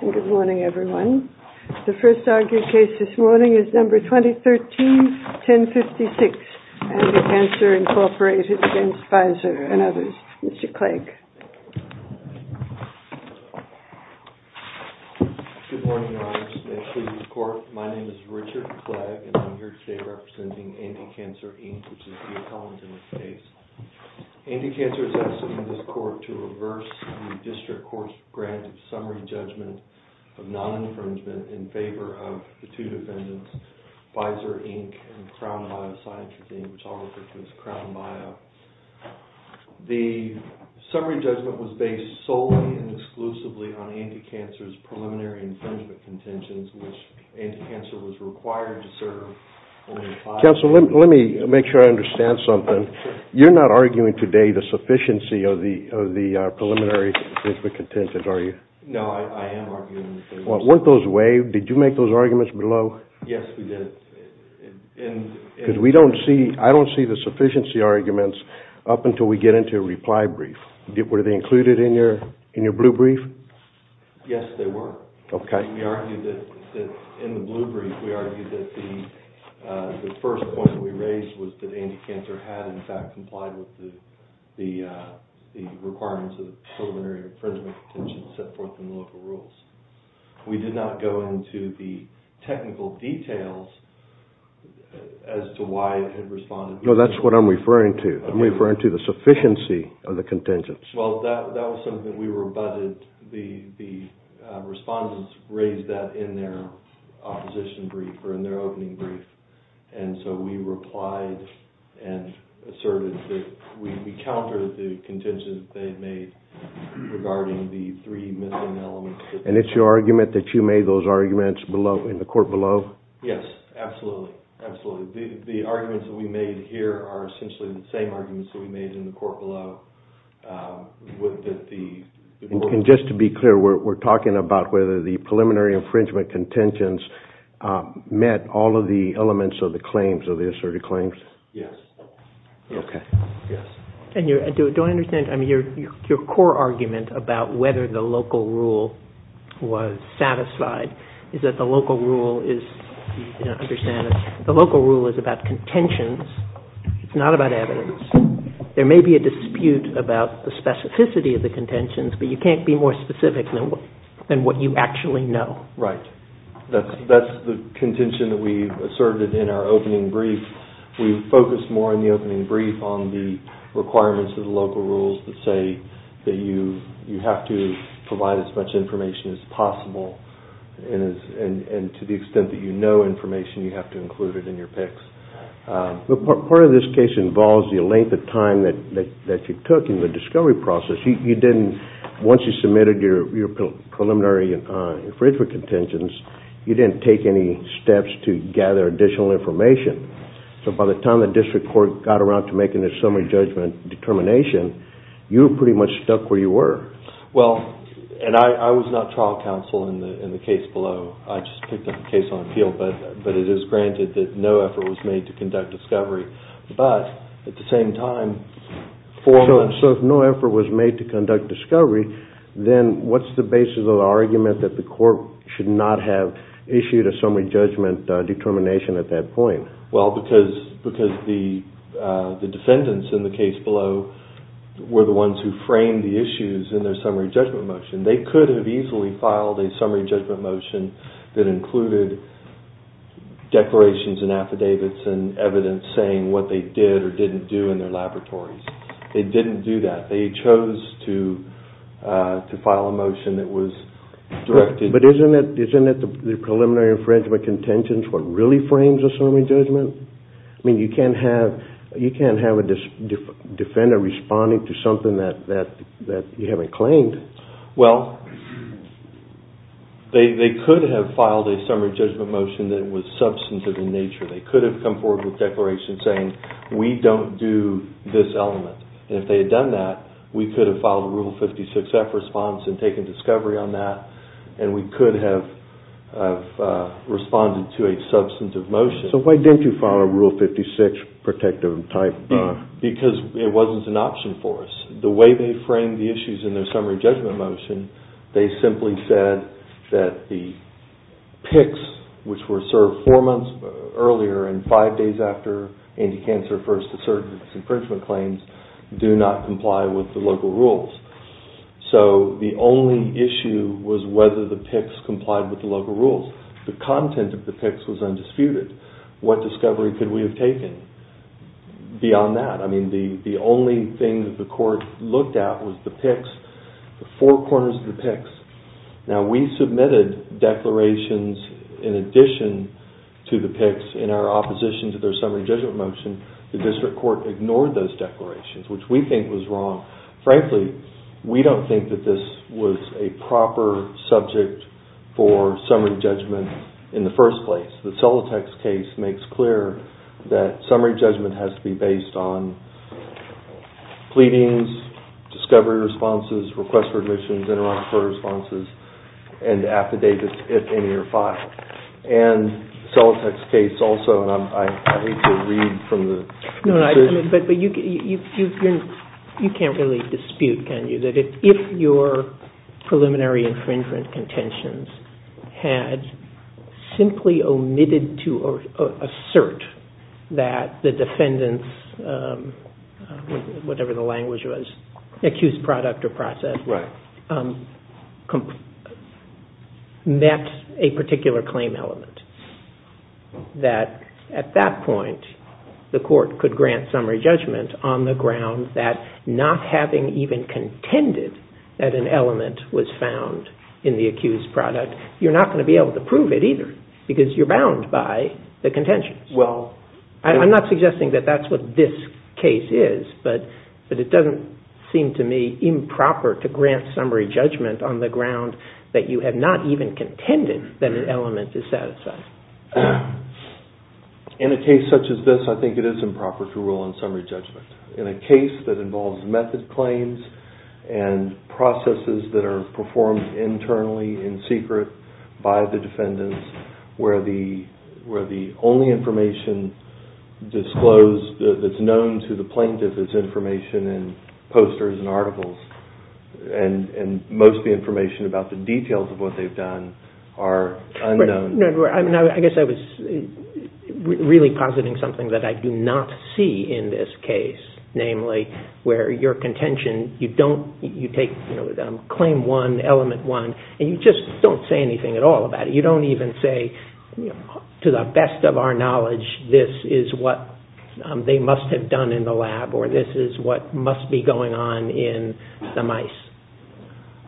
Good morning everyone. The first argued case this morning is number 2013-1056, ANTICANCER, INC. v. PFIZER, and others. Mr. Clegg. Good morning, Your Honors. May it please the Court, my name is Richard Clegg, and I'm here today representing ANTICANCER, INC., which is the accountant in this case. ANTICANCER is asking this Court to reverse the District Court's grant of summary judgment of non-infringement in favor of the two defendants, PFIZER, INC., and CROWN-BIA, which I'll refer to as CROWN-BIA. The summary judgment was based solely and exclusively on ANTICANCER's preliminary infringement contentions, which ANTICANCER was required to serve only five years. Counsel, let me make sure I understand something. You're not arguing today the sufficiency of the preliminary infringement contentions, are you? No, I am arguing the sufficiency. Weren't those waived? Did you make those arguments below? Yes, we did. Because I don't see the sufficiency arguments up until we get into a reply brief. Were they included in your blue brief? Yes, they were. Okay. We argued that, in the blue brief, we argued that the first point we raised was that ANTICANCER had, in fact, complied with the requirements of the preliminary infringement contentions set forth in the local rules. We did not go into the technical details as to why it had responded. No, that's what I'm referring to. I'm referring to the sufficiency of the contingents. Well, that was something that we rebutted. The respondents raised that in their opposition brief or in their opening brief, and so we replied and asserted that we countered the contingents they had made regarding the three missing elements. And it's your argument that you made those arguments below, in the court below? Yes, absolutely. Absolutely. The arguments that we made here are essentially the same arguments that we made in the court below. And just to be clear, we're talking about whether the preliminary infringement contentions met all of the elements of the claims, of the asserted claims? Yes. Okay. Yes. And do I understand, I mean, your core argument about whether the local rule was satisfied is that the local rule is, you know, understand, the local rule is about contentions. It's not about evidence. There may be a dispute about the specificity of the contentions, but you can't be more specific than what you actually know. Right. That's the contention that we asserted in our opening brief. We focused more in the opening brief on the requirements of the local rules that say that you have to provide as much information as possible, and to the extent that you know information, you have to include it in your picks. Part of this case involves the length of time that you took in the discovery process. You didn't, once you submitted your preliminary infringement contentions, you didn't take any steps to gather additional information. So by the time the district court got around to making a summary judgment determination, you were pretty much stuck where you were. Well, and I was not trial counsel in the case below. I just picked up the case on appeal, but it is granted that no effort was made to conduct discovery. But, at the same time, four months... So if no effort was made to conduct discovery, then what's the basis of the argument that the court should not have issued a summary judgment determination at that point? Well, because the defendants in the case below were the ones who framed the issues in their summary judgment motion. They could have easily filed a summary judgment motion that included declarations and affidavits and evidence saying what they did or didn't do in their laboratories. They didn't do that. They chose to file a motion that was directed... But isn't it the preliminary infringement contentions what really frames a summary judgment? I mean, you can't have a defendant responding to something that you haven't claimed. Well, they could have filed a summary judgment motion that was substantive in nature. They could have come forward with declarations saying, we don't do this element. And if they had done that, we could have filed a Rule 56F response and taken discovery on that, and we could have responded to a substantive motion. So why didn't you file a Rule 56 protective type? Because it wasn't an option for us. The way they framed the issues in their summary judgment motion, they simply said that the PICS, which were served four months earlier and five days after anti-cancer first asserted its infringement claims, do not comply with the local rules. So the only issue was whether the PICS complied with the local rules. The content of the PICS was undisputed. What discovery could we have taken? Beyond that, I mean, the only thing that the court looked at was the PICS, the four corners of the PICS. Now, we submitted declarations in addition to the PICS in our opposition to their summary judgment motion. The district court ignored those declarations, which we think was wrong. Frankly, we don't think that this was a proper subject for summary judgment in the first place. The Celotex case makes clear that summary judgment has to be based on pleadings, discovery responses, requests for admissions, inter-office court responses, and affidavits if any are filed. And Celotex case also, and I hate to read from the... No, but you can't really dispute, can you, that if your preliminary infringement contentions had simply omitted to assert that the defendant's, whatever the language was, accused product or process met a particular claim element, that at that point the court could grant summary judgment on the ground that not having even contended that an element was found in the accused product, you're not going to be able to prove it either because you're bound by the contentions. I'm not suggesting that that's what this case is, but it doesn't seem to me improper to grant summary judgment on the ground that you have not even contended that an element is satisfied. In a case such as this, I think it is improper to rule on summary judgment. In a case that involves method claims and processes that are performed internally in secret by the defendants where the only information disclosed that's known to the plaintiff is information in posters and articles and most of the information about the details of what they've done are unknown. I guess I was really positing something that I do not see in this case, namely where your contention, you don't, you take claim one, element one, and you just don't say anything at all about it. You don't even say, to the best of our knowledge, this is what they must have done in the lab or this is what must be going on in the mice.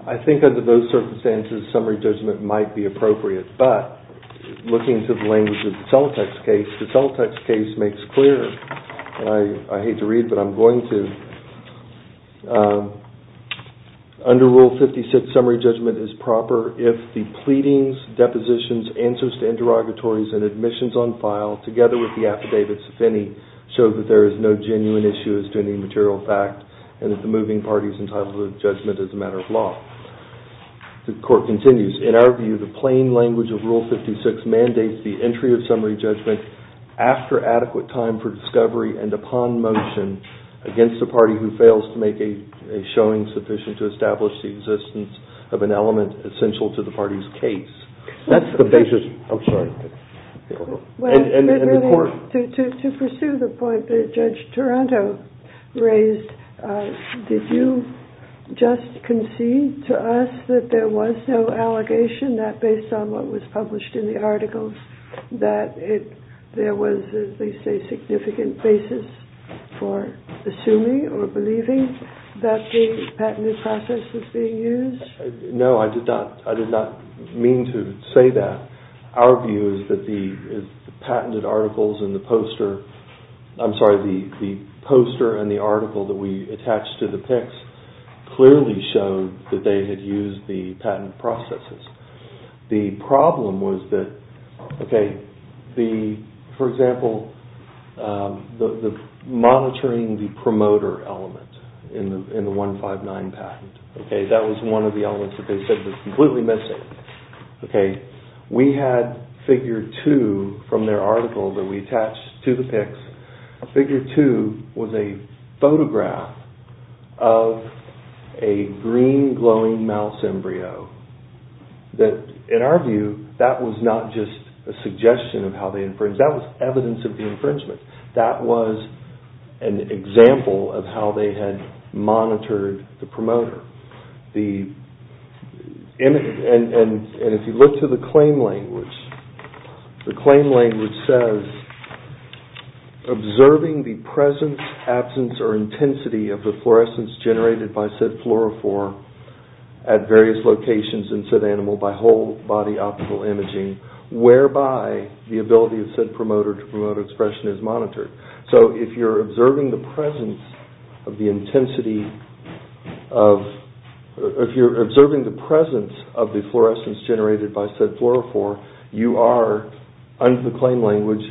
I think under those circumstances, summary judgment might be appropriate, but looking to the language of the Celotex case, the Celotex case makes clear, and I hate to read, but I'm going to. Under Rule 56, summary judgment is proper if the pleadings, depositions, answers to interrogatories, and admissions on file together with the affidavits, if any, show that there is no genuine issue as to any material fact and that the moving party is entitled to judgment as a matter of law. The court continues, in our view, the plain language of Rule 56 mandates the entry of summary judgment after adequate time for discovery and upon motion against the party who fails to make a showing sufficient to establish the existence of an element essential to the party's case. That's the basis, I'm sorry. To pursue the point that Judge Toronto raised, did you just concede to us that there was no allegation that, based on what was published in the articles, that there was, as they say, a significant basis for assuming or believing that the patented process was being used? No, I did not mean to say that. Our view is that the patented articles and the poster, I'm sorry, the poster and the article that we attached to the PICS clearly showed that they had used the patent processes. The problem was that, for example, the monitoring the promoter element in the 159 patent, that was one of the elements that they said was completely missing. We had figure two from their article that we attached to the PICS. Figure two was a photograph of a green glowing mouse embryo. In our view, that was not just a suggestion of how they infringed, that was evidence of the infringement. That was an example of how they had monitored the promoter. If you look to the claim language, the claim language says, observing the presence, absence, or intensity of the fluorescence generated by said fluorophore at various locations in said animal by whole body optical imaging, whereby the ability of said promoter to promote expression is monitored. So if you're observing the presence of the intensity of, if you're observing the presence of the fluorescence generated by said fluorophore, you are, under the claim language,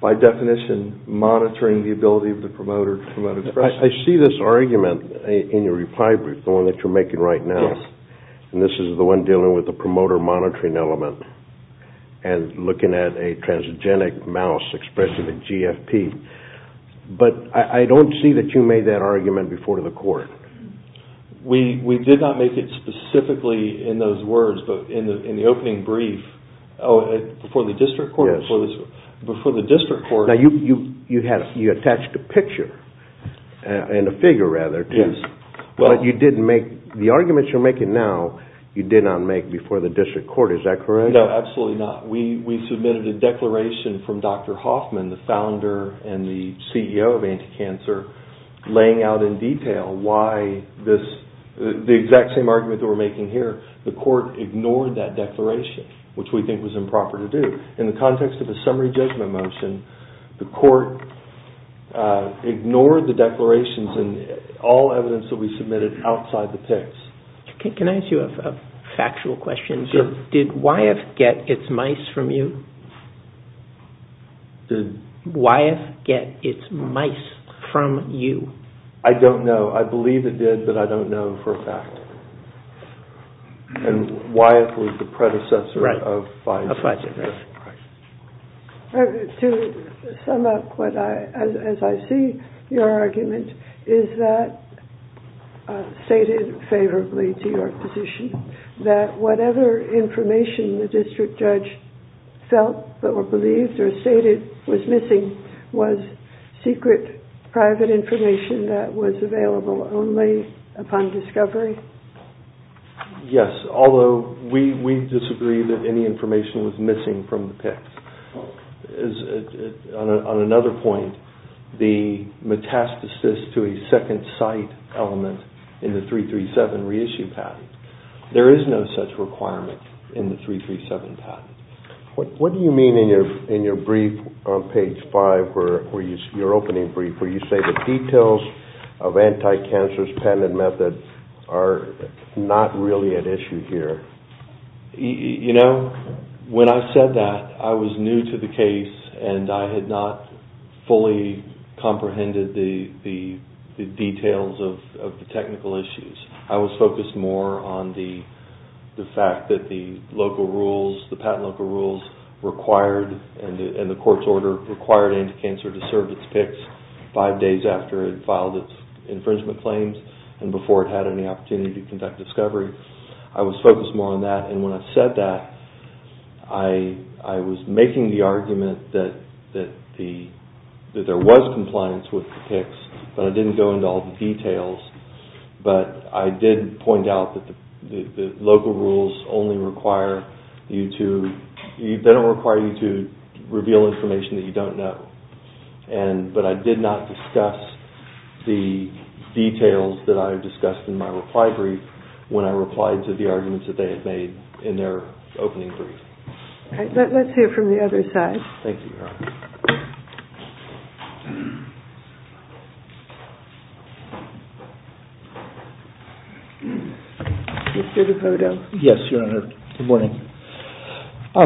by definition monitoring the ability of the promoter to promote expression. I see this argument in your reply brief, the one that you're making right now. Yes. And this is the one dealing with the promoter monitoring element and looking at a transgenic mouse expressing a GFP. But I don't see that you made that argument before the court. We did not make it specifically in those words, but in the opening brief, before the district court. Now you attached a picture, and a figure rather, but you didn't make, the arguments you're making now, you did not make before the district court. Is that correct? No, absolutely not. We submitted a declaration from Dr. Hoffman, the founder and the CEO of Anti-Cancer, laying out in detail why this, the exact same argument that we're making here, the court ignored that declaration, which we think was improper to do. In the context of a summary judgment motion, Can I ask you a factual question? Sure. Did Wyeth get its mice from you? Did Wyeth get its mice from you? I don't know. I believe it did, but I don't know for a fact. And Wyeth was the predecessor of Pfizer. To sum up, as I see your argument, is that stated favorably to your position, that whatever information the district judge felt or believed or stated was missing, was secret, private information that was available only upon discovery? Yes, although we disagree that any information was missing from the PICS. On another point, the metastasis to a second site element in the 337 reissue patent, there is no such requirement in the 337 patent. What do you mean in your brief on page five, your opening brief, where you say the details of anti-cancer's patented method are not really at issue here? You know, when I said that, I was new to the case, and I had not fully comprehended the details of the technical issues. I was focused more on the fact that the local rules, the patent local rules required, and the court's order required anti-cancer to serve its PICS five days after it filed its infringement claims and before it had any opportunity to conduct discovery. I was focused more on that, and when I said that, I was making the argument that there was compliance with the PICS, but I didn't go into all the details. But I did point out that the local rules only require you to, they don't require you to reveal information that you don't know, but I did not discuss the details that I discussed in my reply brief when I replied to the arguments that they had made in their opening brief. All right, let's hear from the other side. Thank you, Your Honor. Mr. DePoto. Yes, Your Honor. Good morning. I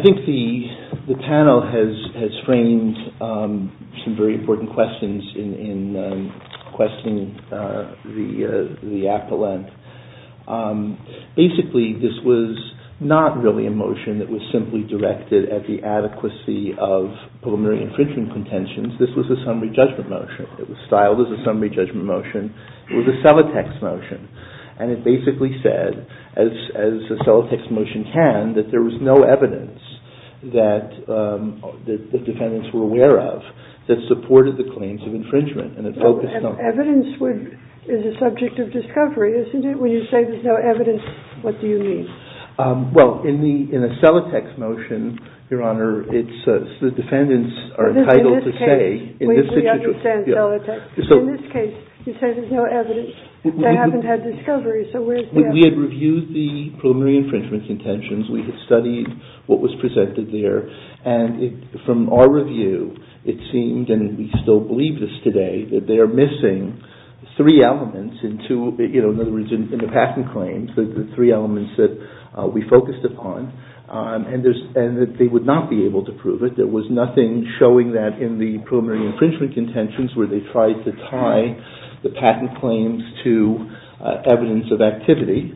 think the panel has framed some very important questions in questioning the appellant. Basically, this was not really a motion that was simply directed at the adequacy of preliminary infringement contentions. This was a summary judgment motion. It was styled as a summary judgment motion. It was a Celotex motion, and it basically said, as a Celotex motion can, that there was no evidence that the defendants were aware of that supported the claims of infringement. Evidence is a subject of discovery, isn't it? When you say there's no evidence, what do you mean? Well, in a Celotex motion, Your Honor, the defendants are entitled to say. In this case, we understand Celotex. In this case, you say there's no evidence. They haven't had discovery, so where's the evidence? We had reviewed the preliminary infringement contentions. We had studied what was presented there, and from our review, it seemed, and we still believe this today, that they are missing three elements in two, in other words, in the patent claims, the three elements that we focused upon, and that they would not be able to prove it. There was nothing showing that in the preliminary infringement contentions where they tried to tie the patent claims to evidence of activity.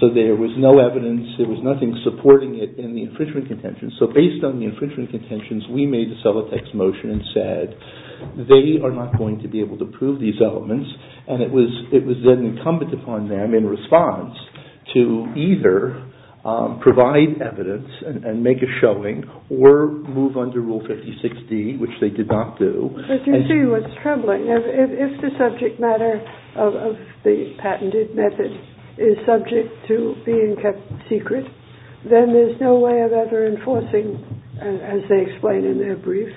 So there was no evidence. There was nothing supporting it in the infringement contentions. So based on the infringement contentions, we made a Celotex motion and said, they are not going to be able to prove these elements, and it was then incumbent upon them in response to either provide evidence and make a showing or move under Rule 56D, which they did not do. But you see what's troubling. If the subject matter of the patented method is subject to being kept secret, then there's no way of ever enforcing, as they explain in their brief,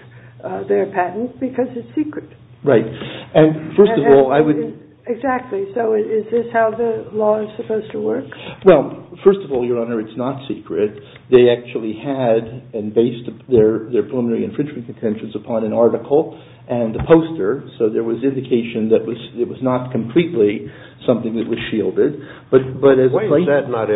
their patent because it's secret. Right. And first of all, I would... Exactly. So is this how the law is supposed to work? Well, first of all, Your Honor, it's not secret. They actually had and based their preliminary infringement contentions upon an article and a poster, so there was indication that it was not completely something that was shielded. Why is that not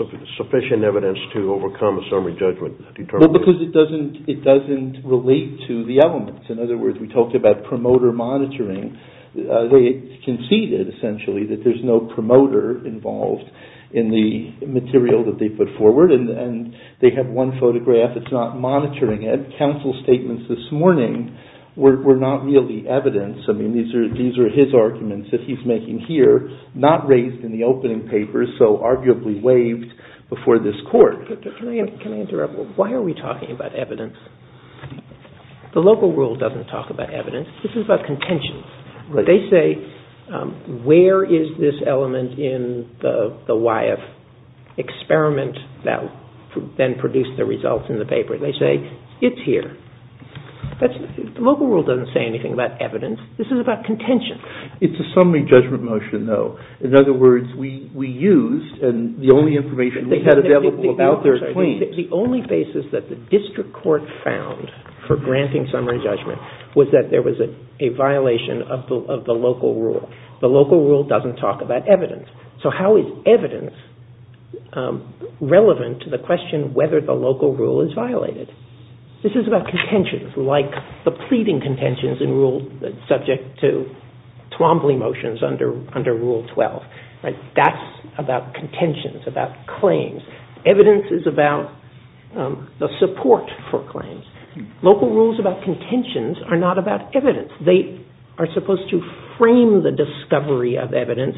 sufficient evidence to overcome a summary judgment determination? Well, because it doesn't relate to the elements. In other words, we talked about promoter monitoring. They conceded, essentially, that there's no promoter involved in the material that they put forward, and they have one photograph that's not monitoring it. Counsel's statements this morning were not really evidence. I mean, these are his arguments that he's making here, not raised in the opening papers, so arguably waived before this Court. Can I interrupt? Why are we talking about evidence? The local rule doesn't talk about evidence. This is about contentions. Right. They say, where is this element in the YF experiment that then produced the results in the paper? They say, it's here. The local rule doesn't say anything about evidence. This is about contentions. It's a summary judgment motion, though. In other words, we used and the only information we had available about their claims. The only basis that the district court found for granting summary judgment was that there was a violation of the local rule. The local rule doesn't talk about evidence. So how is evidence relevant to the question whether the local rule is violated? This is about contentions, like the pleading contentions in rule subject to Twombly motions under Rule 12. That's about contentions, about claims. Evidence is about the support for claims. Local rules about contentions are not about evidence. They are supposed to frame the discovery of evidence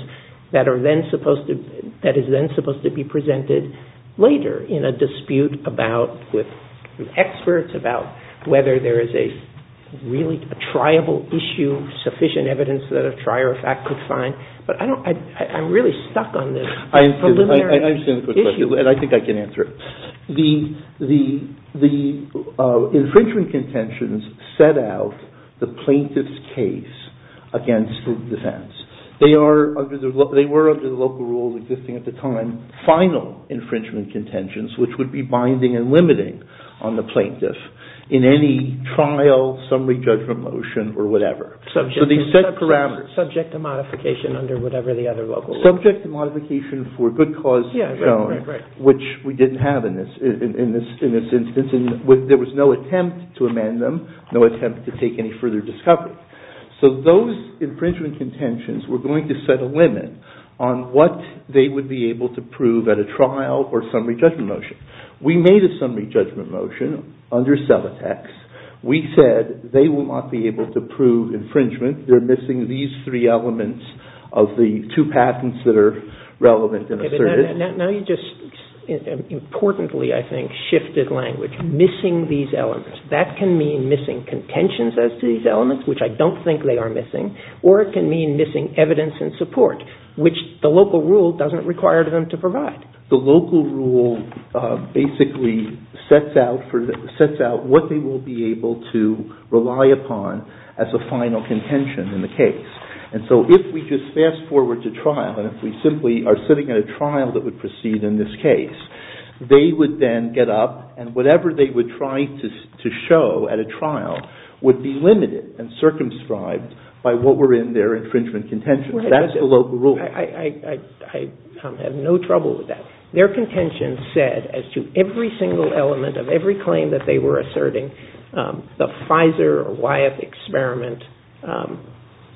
that is then supposed to be presented later in a dispute with experts about whether there is a really triable issue, sufficient evidence that a trier of fact could find. But I'm really stuck on this preliminary issue. And I think I can answer it. The infringement contentions set out the plaintiff's case against the defense. They were, under the local rules existing at the time, final infringement contentions, which would be binding and limiting on the plaintiff in any trial summary judgment motion or whatever. So they set parameters. Subject to modification under whatever the other local rules. Subject to modification for good cause shown. Which we didn't have in this instance. There was no attempt to amend them. No attempt to take any further discovery. So those infringement contentions were going to set a limit on what they would be able to prove at a trial or summary judgment motion. We made a summary judgment motion under Cevatex. We said they will not be able to prove infringement. They're missing these three elements of the two patents that are relevant and assertive. Now you just importantly, I think, shifted language. Missing these elements. That can mean missing contentions as to these elements, which I don't think they are missing. Or it can mean missing evidence and support, which the local rule doesn't require them to provide. The local rule basically sets out what they will be able to rely upon as a final contention in the case. And so if we just fast forward to trial, and if we simply are sitting at a trial that would proceed in this case, they would then get up and whatever they would try to show at a trial would be limited and circumscribed by what were in their infringement contentions. That's the local rule. I have no trouble with that. Their contention said as to every single element of every claim that they were asserting, the Pfizer or YF experiment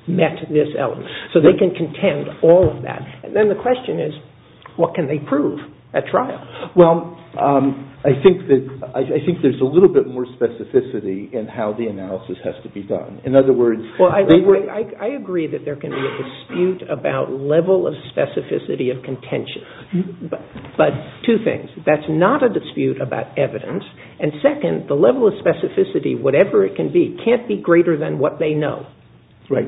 met this element. So they can contend all of that. And then the question is, what can they prove at trial? Well, I think there's a little bit more specificity in how the analysis has to be done. Well, I agree that there can be a dispute about level of specificity of contention. But two things. That's not a dispute about evidence. And second, the level of specificity, whatever it can be, can't be greater than what they know. Right.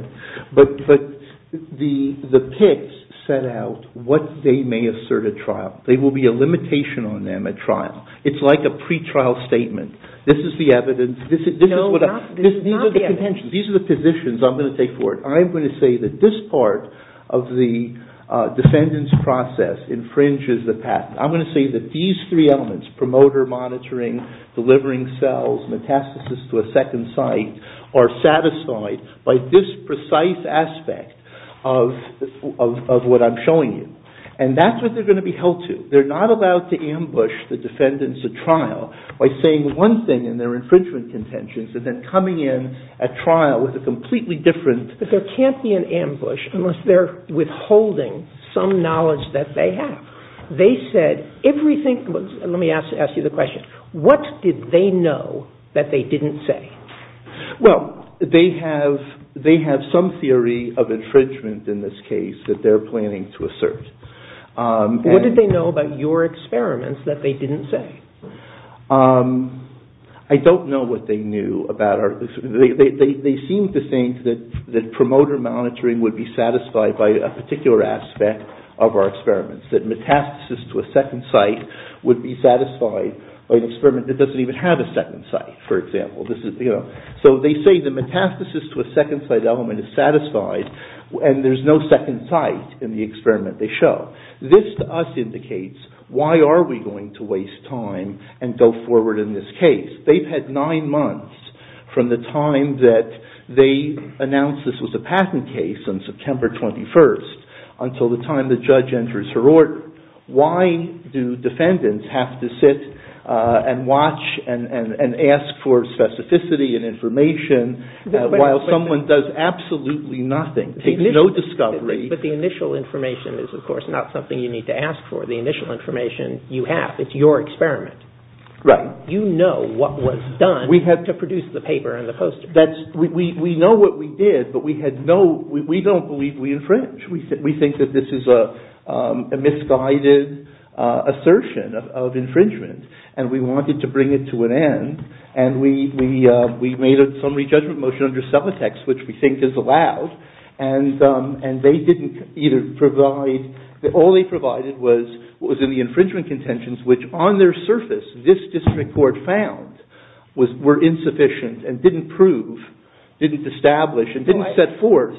But the PICS set out what they may assert at trial. There will be a limitation on them at trial. It's like a pretrial statement. This is the evidence. No, it's not the evidence. These are the positions I'm going to take forward. I'm going to say that this part of the defendant's process infringes the patent. I'm going to say that these three elements, promoter monitoring, delivering cells, metastasis to a second site, are satisfied by this precise aspect of what I'm showing you. And that's what they're going to be held to. They're not allowed to ambush the defendants at trial by saying one thing in their infringement contentions and then coming in at trial with a completely different- But there can't be an ambush unless they're withholding some knowledge that they have. They said everything was- let me ask you the question. What did they know that they didn't say? Well, they have some theory of infringement in this case that they're planning to assert. What did they know about your experiments that they didn't say? I don't know what they knew about our- they seem to think that promoter monitoring would be satisfied by a particular aspect of our experiments, that metastasis to a second site would be satisfied by an experiment that doesn't even have a second site, for example. So they say the metastasis to a second site element is satisfied, and there's no second site in the experiment they show. This, to us, indicates why are we going to waste time and go forward in this case. They've had nine months from the time that they announced this was a patent case on September 21st until the time the judge enters her order. Why do defendants have to sit and watch and ask for specificity and information while someone does absolutely nothing, takes no discovery- But the initial information is, of course, not something you need to ask for. The initial information you have, it's your experiment. Right. You know what was done to produce the paper and the poster. We know what we did, but we had no- we don't believe we infringed. We think that this is a misguided assertion of infringement, and we wanted to bring it to an end, and we made a summary judgment motion under subtext, which we think is allowed, and they didn't either provide- all they provided was in the infringement contentions, which on their surface this district court found were insufficient and didn't prove, didn't establish, and didn't set forth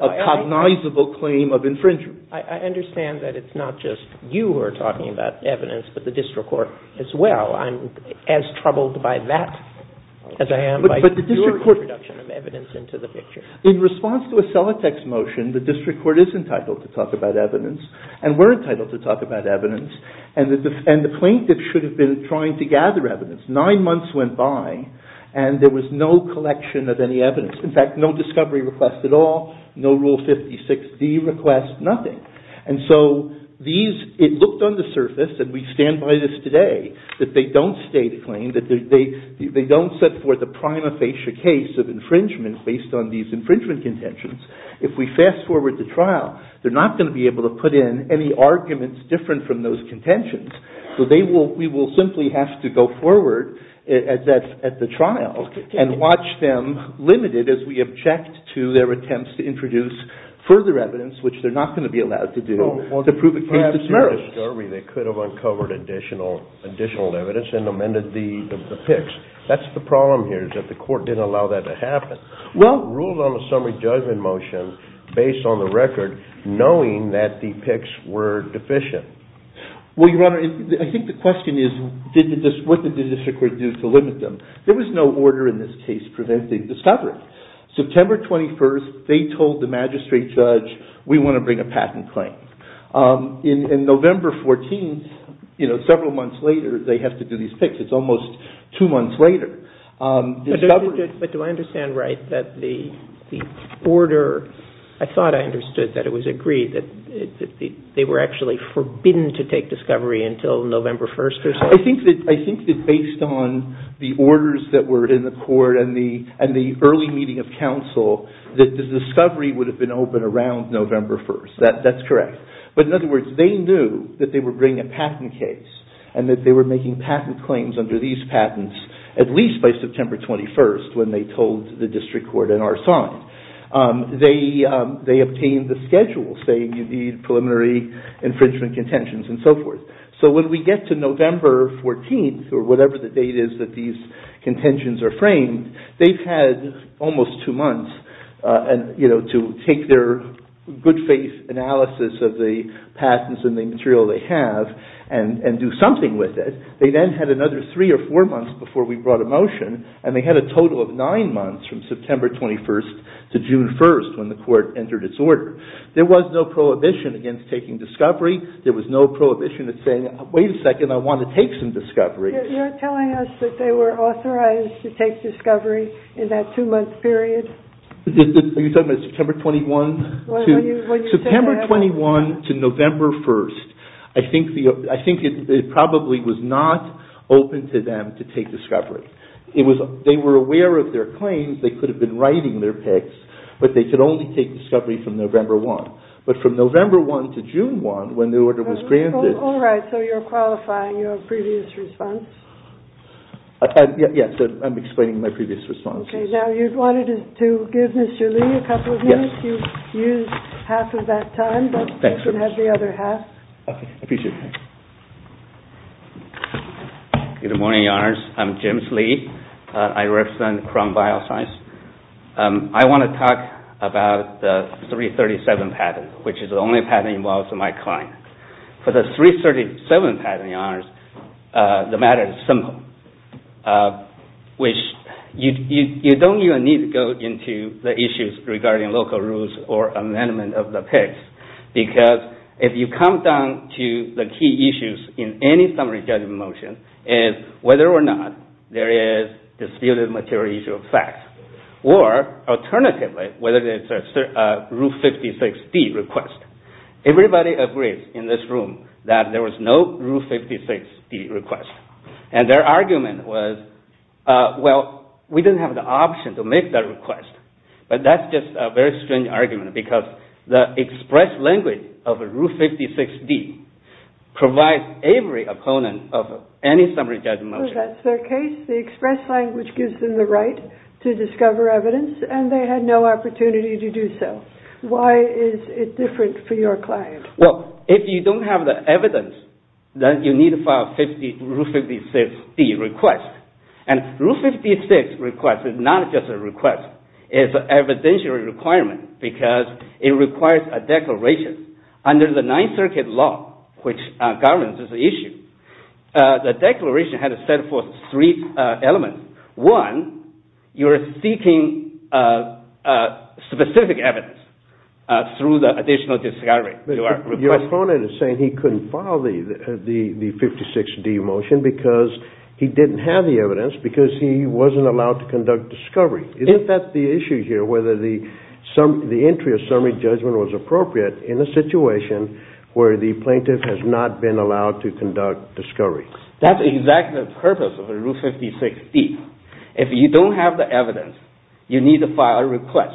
a cognizable claim of infringement. I understand that it's not just you who are talking about evidence, but the district court as well. I'm as troubled by that as I am by your introduction of evidence into the picture. In response to a Celotex motion, the district court is entitled to talk about evidence, and we're entitled to talk about evidence, and the plaintiff should have been trying to gather evidence. Nine months went by, and there was no collection of any evidence. In fact, no discovery request at all, no Rule 56D request, nothing. And so these- it looked on the surface, and we stand by this today, that they don't state a claim, that they don't set forth a prima facie case of infringement based on these infringement contentions. If we fast forward the trial, they're not going to be able to put in any arguments different from those contentions, So they will- we will simply have to go forward at the trial, and watch them, limited as we object to their attempts to introduce further evidence, which they're not going to be allowed to do, to prove a case of merit. They could have uncovered additional evidence and amended the picks. That's the problem here, is that the court didn't allow that to happen. Rules on the summary judgment motion, based on the record, knowing that the picks were deficient. Well, Your Honor, I think the question is, what did the district court do to limit them? There was no order in this case preventing discovery. September 21st, they told the magistrate judge, we want to bring a patent claim. In November 14th, you know, several months later, they have to do these picks. It's almost two months later. But do I understand right that the order- I thought I understood that it was agreed, that they were actually forbidden to take discovery until November 1st or something? I think that based on the orders that were in the court and the early meeting of counsel, that the discovery would have been open around November 1st. That's correct. But in other words, they knew that they were bringing a patent case, and that they were making patent claims under these patents at least by September 21st when they told the district court and our son. They obtained the schedule saying you need preliminary infringement contentions and so forth. So when we get to November 14th, or whatever the date is that these contentions are framed, they've had almost two months to take their good faith analysis of the patents and the material they have and do something with it. They then had another three or four months before we brought a motion, and they had a total of nine months from September 21st to June 1st when the court entered its order. There was no prohibition against taking discovery. There was no prohibition of saying, wait a second, I want to take some discovery. You're telling us that they were authorized to take discovery in that two-month period? Are you talking about September 21? September 21 to November 1st. I think it probably was not open to them to take discovery. They were aware of their claims. They could have been writing their picks, but they could only take discovery from November 1. But from November 1 to June 1, when the order was granted- All right, so you're qualifying your previous response? Yes, I'm explaining my previous response. Okay, now you wanted to give Mr. Lee a couple of minutes. You used half of that time, but you can have the other half. Okay, I appreciate it. Good morning, Your Honors. I'm James Lee. I represent Crumb Bioscience. I want to talk about the 337 patent, which is the only patent involved for my client. For the 337 patent, Your Honors, the matter is simple. You don't even need to go into the issues regarding local rules or amendment of the picks, because if you come down to the key issues in any summary judgment motion, it's whether or not there is distilled material issue of fact, or alternatively, whether it's a Rule 56D request. Everybody agrees in this room that there was no Rule 56D request. Their argument was, well, we didn't have the option to make that request, but that's just a very strange argument, because the express language of a Rule 56D provides every opponent of any summary judgment motion. That's their case. The express language gives them the right to discover evidence, and they had no opportunity to do so. Why is it different for your client? If you don't have the evidence, then you need to file a Rule 56D request. A Rule 56 request is not just a request. It's an evidentiary requirement, because it requires a declaration. Under the Ninth Circuit law, which governs this issue, the declaration had to set forth three elements. One, you're seeking specific evidence through the additional discovery. Your opponent is saying he couldn't file the 56D motion because he didn't have the evidence, because he wasn't allowed to conduct discovery. Isn't that the issue here, whether the entry of summary judgment was appropriate in a situation where the plaintiff has not been allowed to conduct discovery? That's exactly the purpose of a Rule 56D. If you don't have the evidence, you need to file a request,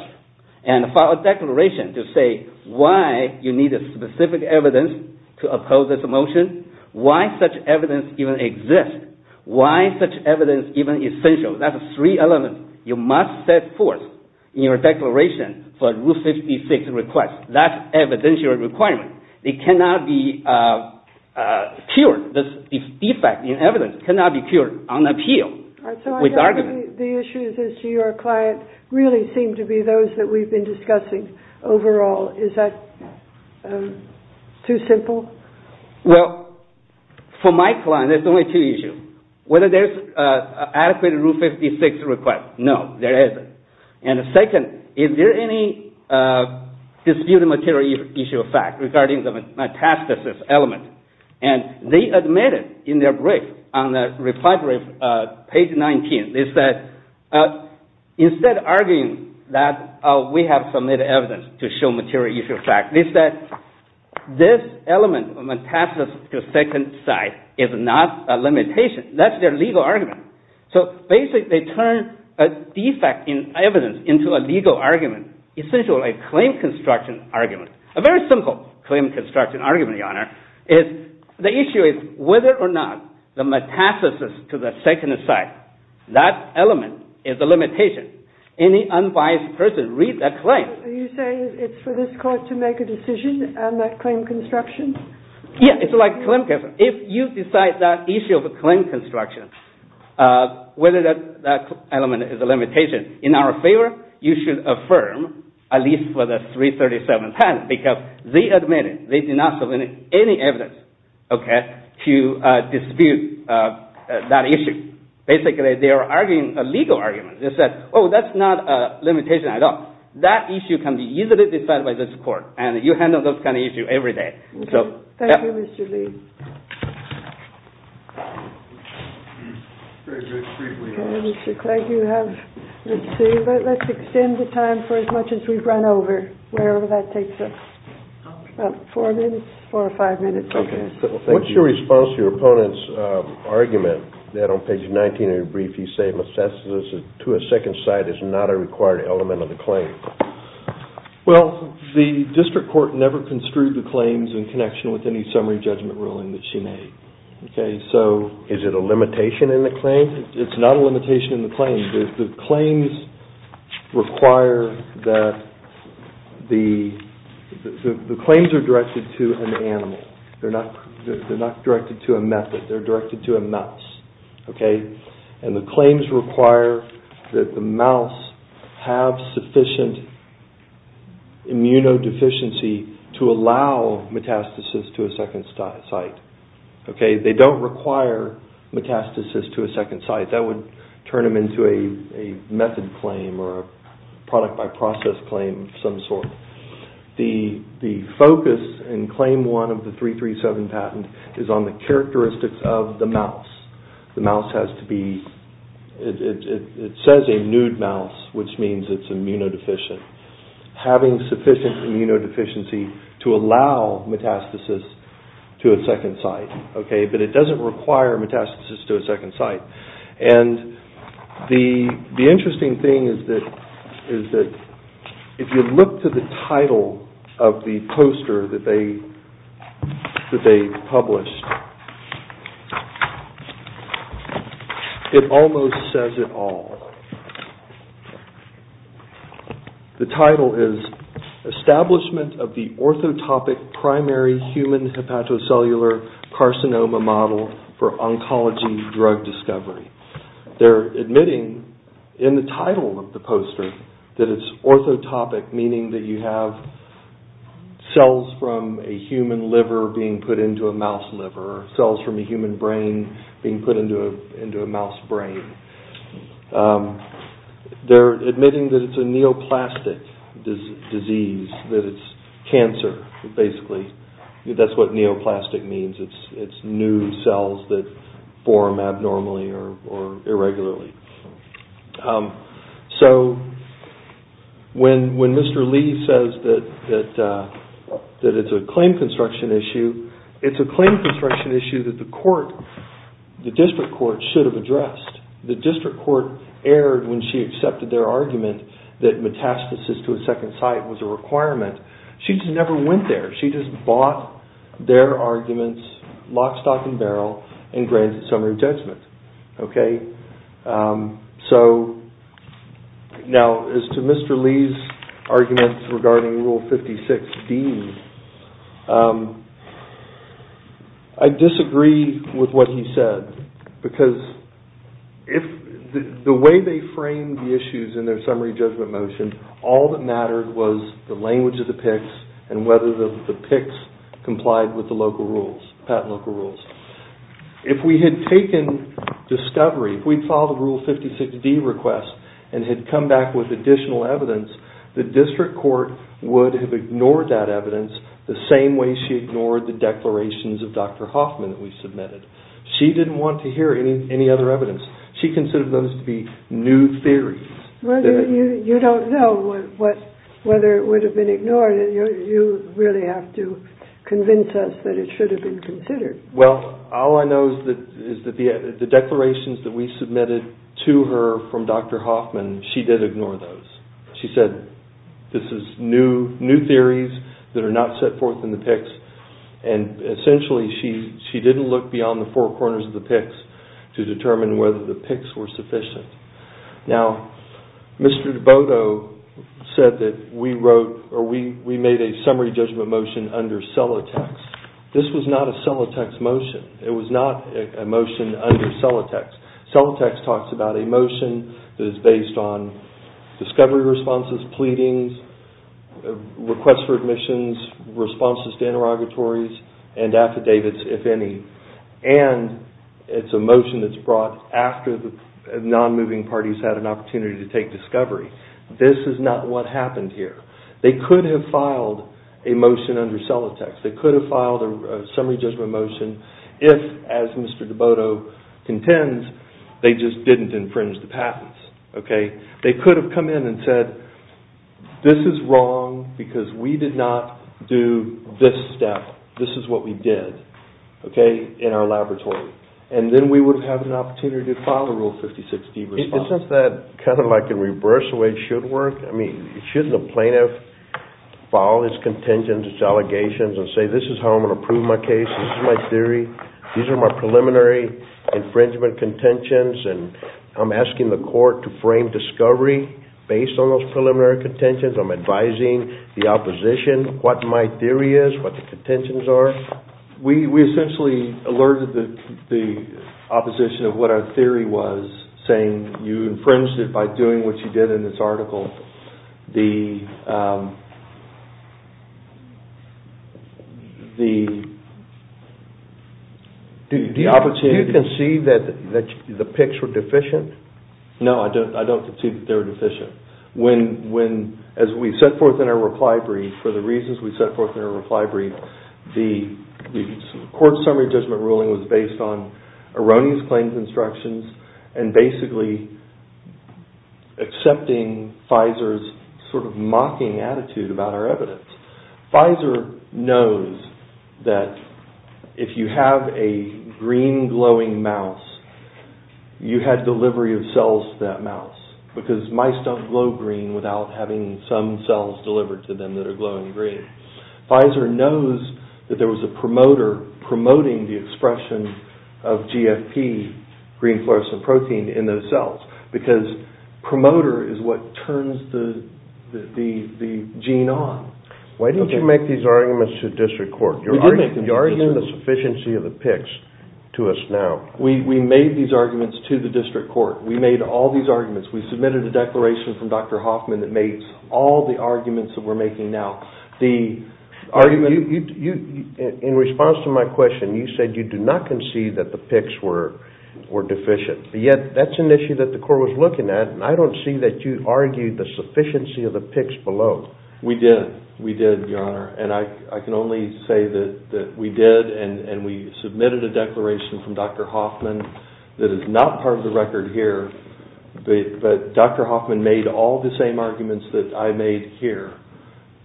and file a declaration to say why you need specific evidence to oppose this motion, why such evidence even exists, why such evidence is even essential. That's three elements you must set forth in your declaration for a Rule 56 request. That's evidentiary requirement. It cannot be cured. This defect in evidence cannot be cured on appeal with argument. The issues as to your client really seem to be those that we've been discussing overall. Is that too simple? Well, for my client, there's only two issues. Whether there's an adequate Rule 56 request, no, there isn't. Second, is there any disputed material issue of fact regarding the metastasis element? They admitted in their brief on the reply brief, page 19, they said instead of arguing that we have submitted evidence to show material issue of fact, they said this element of metastasis to the second side is not a limitation. That's their legal argument. So basically, they turned a defect in evidence into a legal argument, essentially a claim construction argument. A very simple claim construction argument, Your Honor, is the issue is whether or not the metastasis to the second side, that element is a limitation. Any unbiased person reads that claim. Are you saying it's for this court to make a decision on that claim construction? Yeah, it's like claim construction. If you decide that issue of claim construction, whether that element is a limitation, in our favor, you should affirm at least for the 337th time because they admitted they did not submit any evidence to dispute that issue. Basically, they are arguing a legal argument. They said, oh, that's not a limitation at all. That issue can be easily decided by this court. And you handle those kind of issues every day. Thank you, Mr. Lee. Mr. Clegg, you have, let's see. Let's extend the time for as much as we've run over, wherever that takes us, about four minutes, four or five minutes. Okay. What's your response to your opponent's argument that on page 19 of your brief, he said metastasis to a second side is not a required element of the claim? Well, the district court never construed the claims in connection with any summary judgment ruling that she made. Okay. Is it a limitation in the claim? It's not a limitation in the claim. The claims require that the claims are directed to an animal. They're not directed to a method. They're directed to a mouse. Okay. And the claims require that the mouse have sufficient immunodeficiency to allow metastasis to a second site. Okay. They don't require metastasis to a second site. That would turn them into a method claim or a product by process claim of some sort. The focus in Claim 1 of the 337 patent is on the characteristics of the mouse. The mouse has to be... It says a nude mouse, which means it's immunodeficient. Having sufficient immunodeficiency to allow metastasis to a second site. Okay. But it doesn't require metastasis to a second site. And the interesting thing is that if you look to the title of the poster that they published, it almost says it all. The title is Establishment of the Orthotopic Primary Human Hepatocellular Carcinoma Model for Oncology Drug Discovery. They're admitting in the title of the poster that it's orthotopic, meaning that you have cells from a human liver being put into a mouse liver or cells from a human brain being put into a mouse brain. They're admitting that it's a neoplastic disease, that it's cancer, basically. That's what neoplastic means. It's new cells that form abnormally or irregularly. So when Mr. Lee says that it's a claim construction issue, it's a claim construction issue that the court, the district court, should have addressed. The district court erred when she accepted their argument that metastasis to a second site was a requirement. She just never went there. She just bought their arguments lock, stock, and barrel and granted summary judgment. So now as to Mr. Lee's arguments regarding Rule 56D, I disagree with what he said because the way they framed the issues in their summary judgment motion, all that mattered was the language of the PICS and whether the PICS complied with the patent local rules. If we had taken discovery, if we'd filed a Rule 56D request and had come back with additional evidence, the district court would have ignored that evidence the same way she ignored the declarations of Dr. Hoffman that we submitted. She didn't want to hear any other evidence. She considered those to be new theories. Well, you don't know whether it would have been ignored. You really have to convince us that it should have been considered. Well, all I know is that the declarations that we submitted to her from Dr. Hoffman, she did ignore those. She said this is new theories that are not set forth in the PICS and essentially she didn't look beyond the four corners of the PICS to determine whether the PICS were sufficient. Now, Mr. DeBoto said that we made a summary judgment motion under Celotex. This was not a Celotex motion. It was not a motion under Celotex. Celotex talks about a motion that is based on discovery responses, pleadings, requests for admissions, responses to interrogatories, and affidavits, if any. And it's a motion that's brought after the non-moving parties had an opportunity to take discovery. This is not what happened here. They could have filed a motion under Celotex. They could have filed a summary judgment motion if, as Mr. DeBoto contends, they just didn't infringe the patents. They could have come in and said this is wrong because we did not do this step. This is what we did in our laboratory. And then we would have had an opportunity to file a Rule 56D response. Isn't that kind of like in reverse the way it should work? I mean, shouldn't a plaintiff file his contentions, his allegations, and say this is how I'm going to prove my case, this is my theory, these are my preliminary infringement contentions, and I'm asking the court to frame discovery based on those preliminary contentions. I'm advising the opposition what my theory is, what the contentions are. We essentially alerted the opposition of what our theory was, saying you infringed it by doing what you did in this article. Do you concede that the picks were deficient? No, I don't concede that they were deficient. As we set forth in our reply brief, for the reasons we set forth in our reply brief, the court summary judgment ruling was based on erroneous claims instructions and basically accepting Pfizer's sort of mocking attitude about our evidence. Pfizer knows that if you have a green glowing mouse, you had delivery of cells to that mouse, because mice don't glow green without having some cells delivered to them that are glowing green. Pfizer knows that there was a promoter promoting the expression of GFP, green fluorescent protein, in those cells, because promoter is what turns the gene on. Why didn't you make these arguments to district court? You're arguing the sufficiency of the picks to us now. We made these arguments to the district court. We made all these arguments. We submitted a declaration from Dr. Hoffman that made all the arguments that we're making now. In response to my question, you said you do not concede that the picks were deficient. Yet, that's an issue that the court was looking at, and I don't see that you argued the sufficiency of the picks below. We did. We did, Your Honor. I can only say that we did, and we submitted a declaration from Dr. Hoffman that is not part of the record here, but Dr. Hoffman made all the same arguments that I made here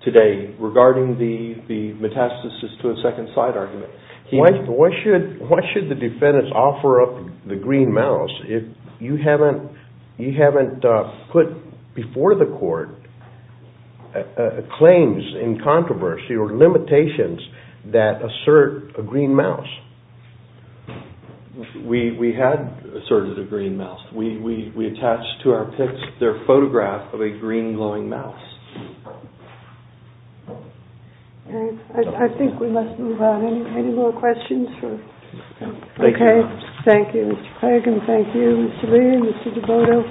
today regarding the metastasis to a second side argument. Why should the defendants offer up the green mouse if you haven't put before the court claims in controversy or limitations that assert a green mouse? We had asserted a green mouse. We attached to our picks their photograph of a green glowing mouse. I think we must move on. Any more questions? Thank you, Your Honor. Thank you, Mr. Lee and Mr. DeVoto.